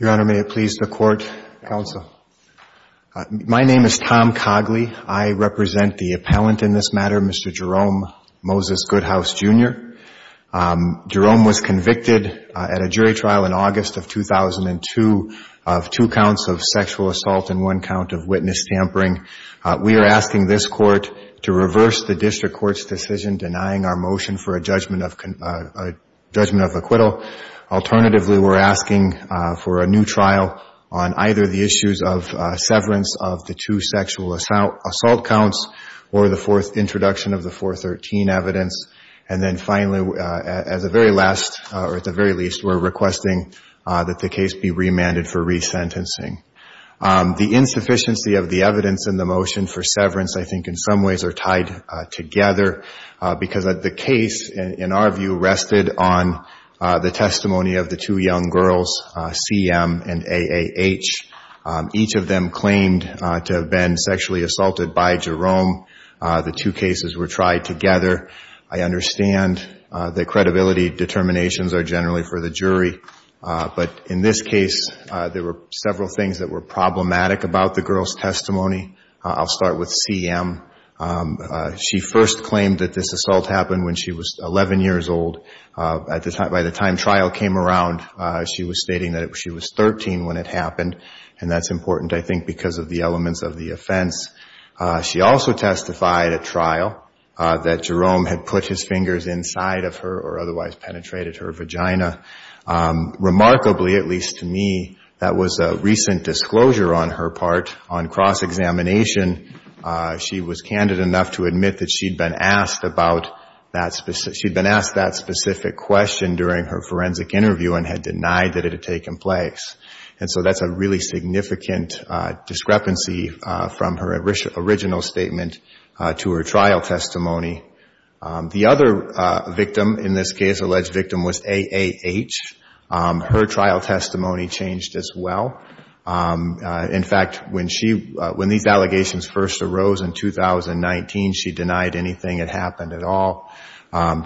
Your Honor, may it please the Court, counsel. My name is Tom Cogley. I represent the appellant in this matter, Mr. Jerome Moses Goodhouse, Jr. Jerome was convicted at a jury trial in August of 2002 of two counts of sexual assault and one count of witness tampering. We are asking this Court to reverse the District Court's decision denying our motion for a judgment of acquittal. Alternatively, we're asking for a new trial on either the issues of severance of the two sexual assault counts or the fourth introduction of the 413 evidence. And then finally, as a very last, or at the very least, we're requesting that the case be remanded for resentencing. The insufficiency of the evidence in the motion for severance, I think, in some ways are tied together because the case, in our view, rested on the testimony of the two young girls, C.M. and A.A.H. Each of them claimed to have been sexually assaulted by Jerome. The two cases were tried together. I understand the credibility determinations are generally for the jury, but in this case, there were several things that were problematic about the girls' testimony. I'll start with C.M. She first claimed that this assault happened when she was 11 years old. By the time trial came around, she was stating that she was 13 when it happened, and that's important, I think, because of the elements of the offense. She also testified at trial that Jerome had put his fingers inside of her or otherwise part on cross-examination. She was candid enough to admit that she'd been asked that specific question during her forensic interview and had denied that it had taken place. And so that's a really significant discrepancy from her original statement to her trial testimony. The other victim in this case, alleged victim, was A.A.H. Her trial testimony changed as well. In fact, when these allegations first arose in 2019, she denied anything had happened at all.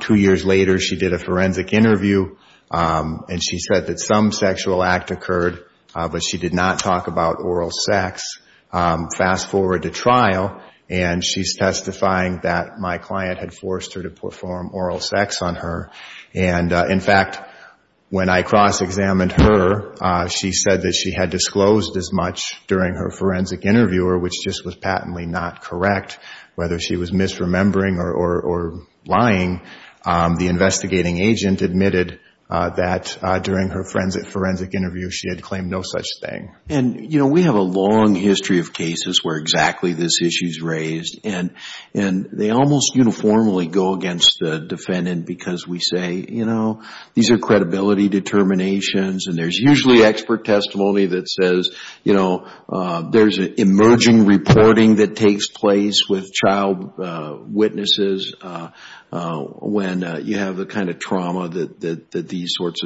Two years later, she did a forensic interview, and she said that some sexual act occurred, but she did not talk about oral sex. Fast forward to trial, and she's testifying that my client had forced her to perform oral sex on her. And in fact, when I cross-examined her, she said that she had disclosed as much during her forensic interview, or which just was patently not correct, whether she was misremembering or lying. The investigating agent admitted that during her forensic interview, she had claimed no such thing. And, you know, we have a long history of cases where exactly this issue is raised, and they almost uniformly go against the defendant because we say, you know, these are credibility determinations, and there's usually expert testimony that says, you know, there's emerging reporting that takes place with child witnesses when you have the kind of trauma that these sorts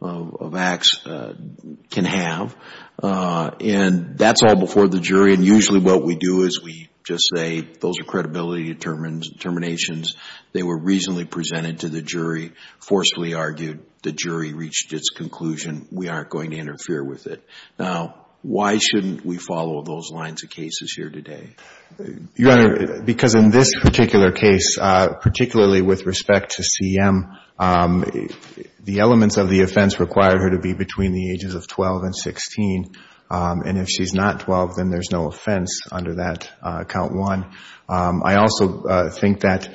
of acts can have. And that's all before the jury, and usually what we do is we just say, those are credibility determinations. They were reasonably presented to the jury, forcefully argued. The jury reached its conclusion. We aren't going to interfere with it. Now, why shouldn't we follow those lines of cases here today? Your Honor, because in this particular case, particularly with respect to CM, the elements of the offense require her to be between the ages of 12 and 16, and if she's not 12, then there's no offense under that count one. I also think that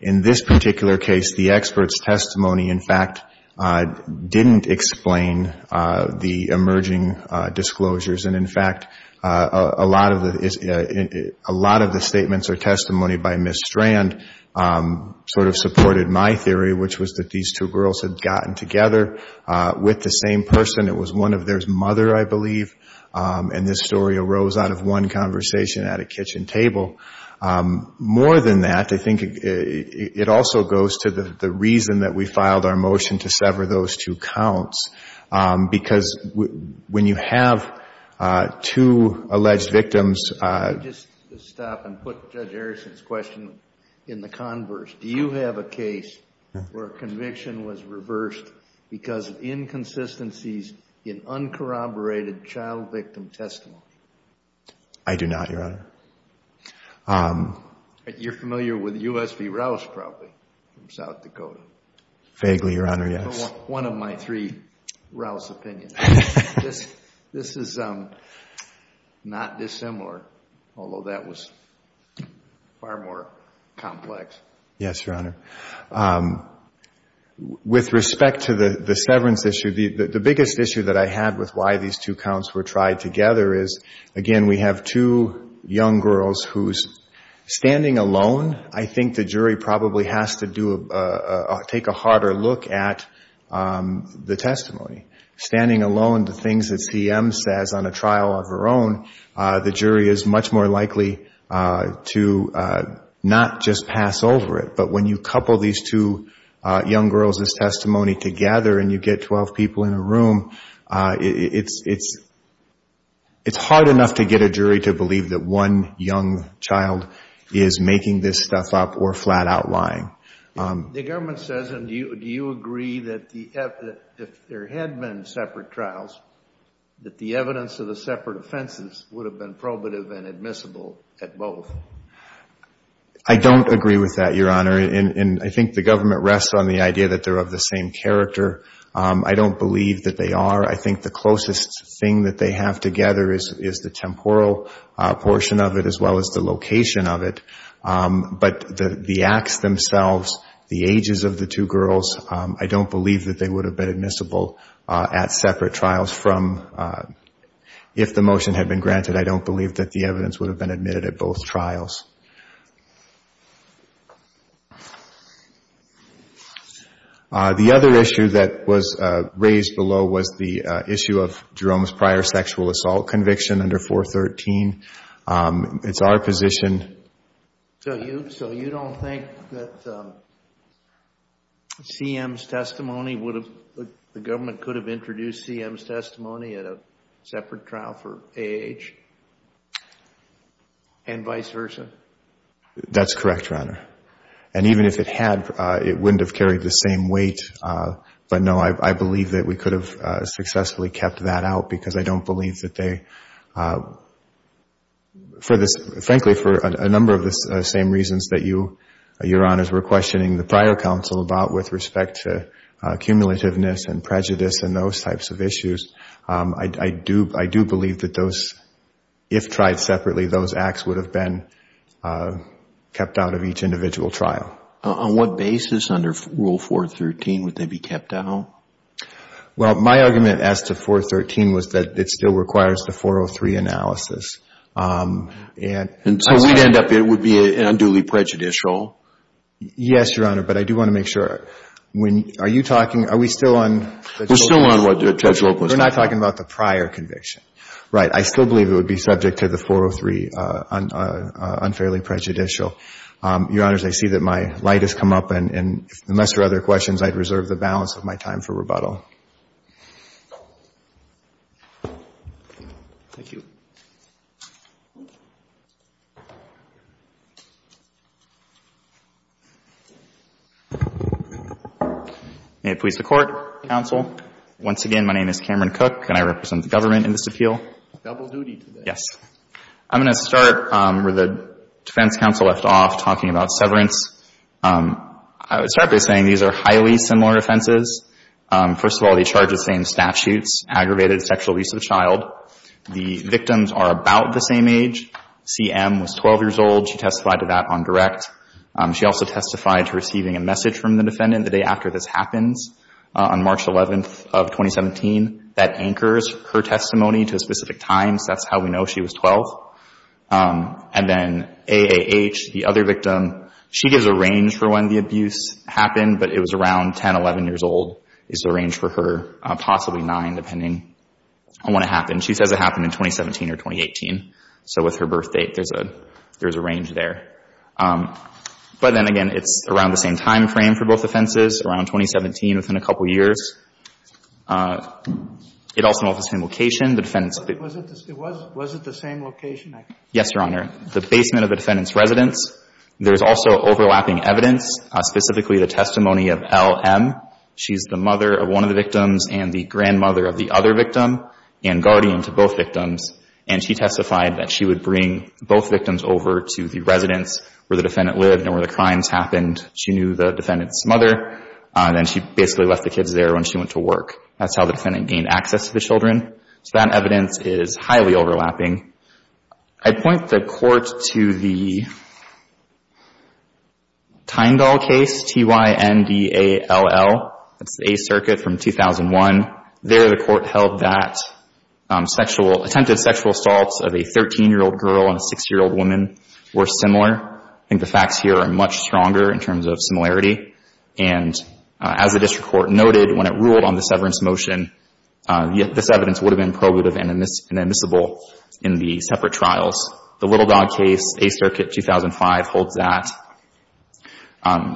in this particular case, the expert's testimony, in fact, didn't explain the emerging disclosures. And, in fact, a lot of the statements or testimony by Ms. Strand sort of supported my theory, which was that these two girls had gotten together with the same person. It was one of their mother, I believe, and this story arose out of one conversation at a kitchen table. More than that, I think it also goes to the reason that we filed our motion to sever those two counts, because when you have two alleged victims — Let me just stop and put Judge Harrison's question in the converse. Do you have a case where a conviction was reversed because of inconsistencies in uncorroborated child victim testimony? I do not, Your Honor. You're familiar with U.S. v. Rouse, probably, from South Dakota. Vaguely, Your Honor, yes. One of my three Rouse opinions. This is not dissimilar, although that was far more complex. Yes, Your Honor. With respect to the severance issue, the biggest issue that I had with why these two counts were tried together is, again, we have two young girls who's standing alone. I think the jury probably has to take a harder look at the testimony. Standing alone, the things that CM says on a trial of her own, the jury is much more likely to not just pass over it. But when you couple these two young girls' testimony together and you get 12 people in a room, it's hard enough to get a jury to believe that one young child is making this stuff up or flat out lying. The government says, and do you agree, that if there had been separate trials, that the evidence of the separate offenses would have been probative and admissible at both? I don't agree with that, Your Honor. And I think the government rests on the idea that they're of the same character. I don't believe that they are. I think the closest thing that they have together is the temporal portion of it as well as the location of it. But the acts themselves, the ages of the two girls, I don't believe that they would have been admissible at separate trials. If the motion had been granted, I don't believe that the evidence would have been admitted at both trials. The other issue that was raised below was the issue of Jerome's prior sexual assault conviction under 413. It's our position. So you don't think that the government could have introduced CM's testimony at a separate trial for AH and vice versa? That's correct, Your Honor. And even if it had, it wouldn't have carried the same weight. But, no, I believe that we could have successfully kept that out because I don't believe that they, for this, frankly, for a number of the same reasons that you, Your Honors, were questioning the prior counsel about with respect to cumulativeness and prejudice and those types of issues. I do believe that those, if tried separately, those acts would have been kept out of each individual trial. On what basis under Rule 413 would they be kept out? Well, my argument as to 413 was that it still requires the 403 analysis. And so we'd end up, it would be unduly prejudicial? Yes, Your Honor, but I do want to make sure. Are you talking, are we still on? We're still on what Judge Lok was talking about. We're not talking about the prior conviction. Right. I still believe it would be subject to the 403 unfairly prejudicial. Your Honors, I see that my light has come up. And unless there are other questions, I'd reserve the balance of my time for rebuttal. Thank you. Thank you. May it please the Court, counsel. Once again, my name is Cameron Cook, and I represent the government in this appeal. Double duty today. Yes. I'm going to start where the defense counsel left off, talking about severance. I would start by saying these are highly similar offenses. First of all, they charge the same statutes, aggravated sexual abuse of the child. The victims are about the same age. CM was 12 years old. She testified to that on direct. She also testified to receiving a message from the defendant the day after this happens on March 11th of 2017. That anchors her testimony to a specific time, so that's how we know she was 12. And then AAH, the other victim, she gives a range for when the abuse happened, but it was around 10, 11 years old. It's a range for her, possibly nine, depending on when it happened. She says it happened in 2017 or 2018. So with her birth date, there's a range there. But then again, it's around the same time frame for both offenses, around 2017, within a couple years. It also involves the same location. Was it the same location? Yes, Your Honor. The basement of the defendant's residence. There's also overlapping evidence, specifically the testimony of LM. She's the mother of one of the victims and the grandmother of the other victim and guardian to both victims, and she testified that she would bring both victims over to the residence where the defendant lived and where the crimes happened. She knew the defendant's mother, and then she basically left the kids there when she went to work. That's how the defendant gained access to the children. So that evidence is highly overlapping. I point the court to the Tyndall case, T-Y-N-D-A-L-L. It's the 8th Circuit from 2001. There the court held that attempted sexual assaults of a 13-year-old girl and a 60-year-old woman were similar. I think the facts here are much stronger in terms of similarity. And as the district court noted, when it ruled on the severance motion, this evidence would have been probative and admissible in the separate trials. The Little Dog case, 8th Circuit, 2005, holds that.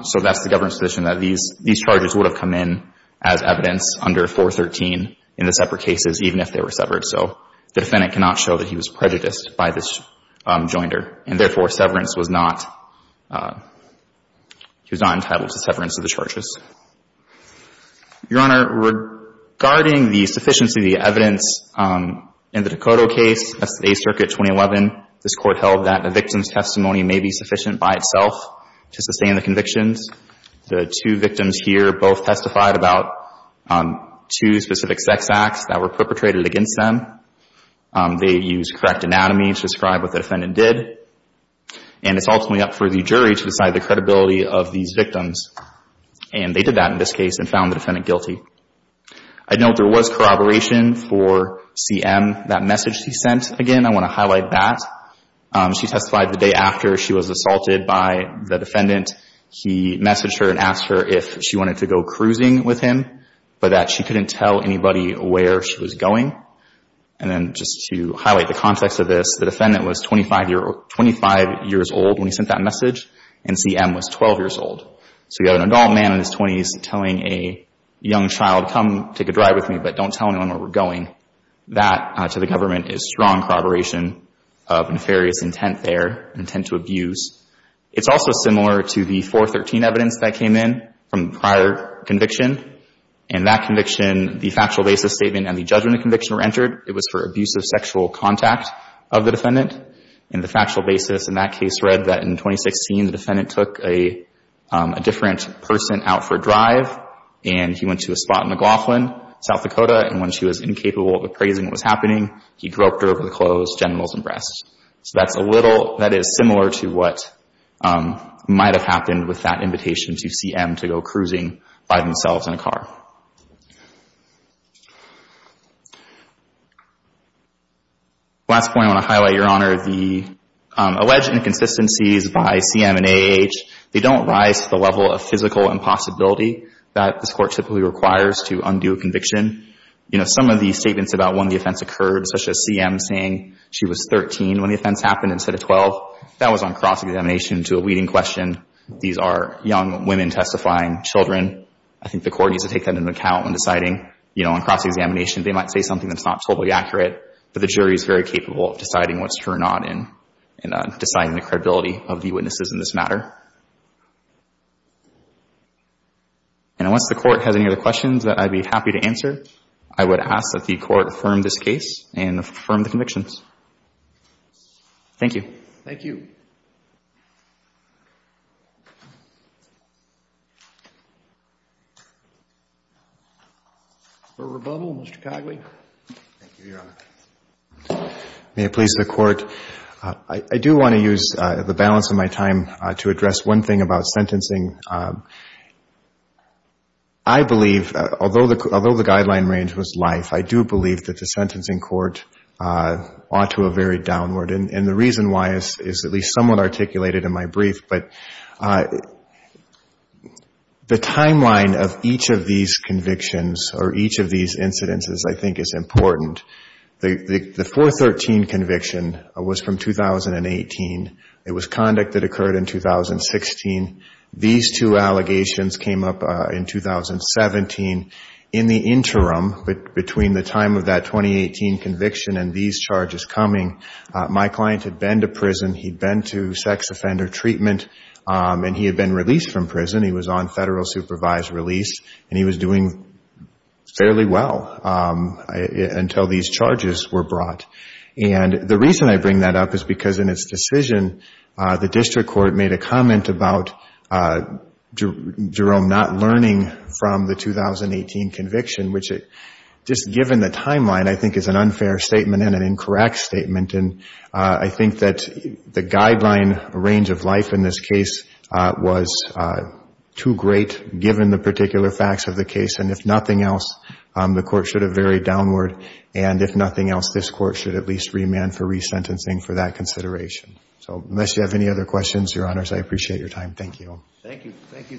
So that's the government's position, that these charges would have come in as evidence under 413 in the separate cases, even if they were severed. So the defendant cannot show that he was prejudiced by this joinder, and therefore severance was not entitled to severance of the charges. Your Honor, regarding the sufficiency of the evidence in the Decoto case, that's the 8th Circuit, 2011. This court held that the victim's testimony may be sufficient by itself to sustain the convictions. The two victims here both testified about two specific sex acts that were perpetrated against them. They used correct anatomy to describe what the defendant did. And it's ultimately up for the jury to decide the credibility of these victims. And they did that in this case and found the defendant guilty. I note there was corroboration for C.M., that message he sent. Again, I want to highlight that. She testified the day after she was assaulted by the defendant. He messaged her and asked her if she wanted to go cruising with him, but that she couldn't tell anybody where she was going. And then just to highlight the context of this, the defendant was 25 years old when he sent that message, and C.M. was 12 years old. So you have an adult man in his 20s telling a young child, come take a drive with me, but don't tell anyone where we're going. That, to the government, is strong corroboration of nefarious intent there, intent to abuse. It's also similar to the 413 evidence that came in from prior conviction. In that conviction, the factual basis statement and the judgment of conviction were entered. It was for abusive sexual contact of the defendant. And the factual basis in that case read that in 2016, the defendant took a different person out for a drive, and he went to a spot in McLaughlin, South Dakota, and when she was incapable of appraising what was happening, he dropped her over the closed genitals and breasts. So that's a little, that is similar to what might have happened with that invitation Last point I want to highlight, Your Honor. The alleged inconsistencies by C.M. and A.H., they don't rise to the level of physical impossibility that this Court typically requires to undo a conviction. You know, some of the statements about when the offense occurred, such as C.M. saying she was 13 when the offense happened instead of 12, that was on cross-examination to a leading question. These are young women testifying, children. I think the Court needs to take that into account when deciding, you know, on cross-examination. They might say something that's not totally accurate, but the jury is very capable of deciding what's true or not and deciding the credibility of the witnesses in this matter. And once the Court has any other questions that I'd be happy to answer, I would ask that the Court affirm this case and affirm the convictions. Thank you. Thank you. For rebuttal, Mr. Cogley. Thank you, Your Honor. May it please the Court. I do want to use the balance of my time to address one thing about sentencing. I believe, although the guideline range was life, I do believe that the sentencing court ought to have varied downward. And the reason why is at least somewhat articulated in my brief. But the timeline of each of these convictions or each of these incidences I think is important. The 413 conviction was from 2018. It was conduct that occurred in 2016. These two allegations came up in 2017. In the interim, between the time of that 2018 conviction and these charges coming, my client had been to prison. He'd been to sex offender treatment. And he had been released from prison. He was on federal supervised release. And he was doing fairly well until these charges were brought. And the reason I bring that up is because in its decision, the district court made a comment about Jerome not learning from the 2018 conviction, which just given the timeline, I think is an unfair statement and an incorrect statement. And I think that the guideline range of life in this case was too great, given the particular facts of the case. And if nothing else, the Court should have varied downward. And if nothing else, this Court should at least remand for resentencing for that consideration. So unless you have any other questions, Your Honors, I appreciate your time. Thank you. Thank you.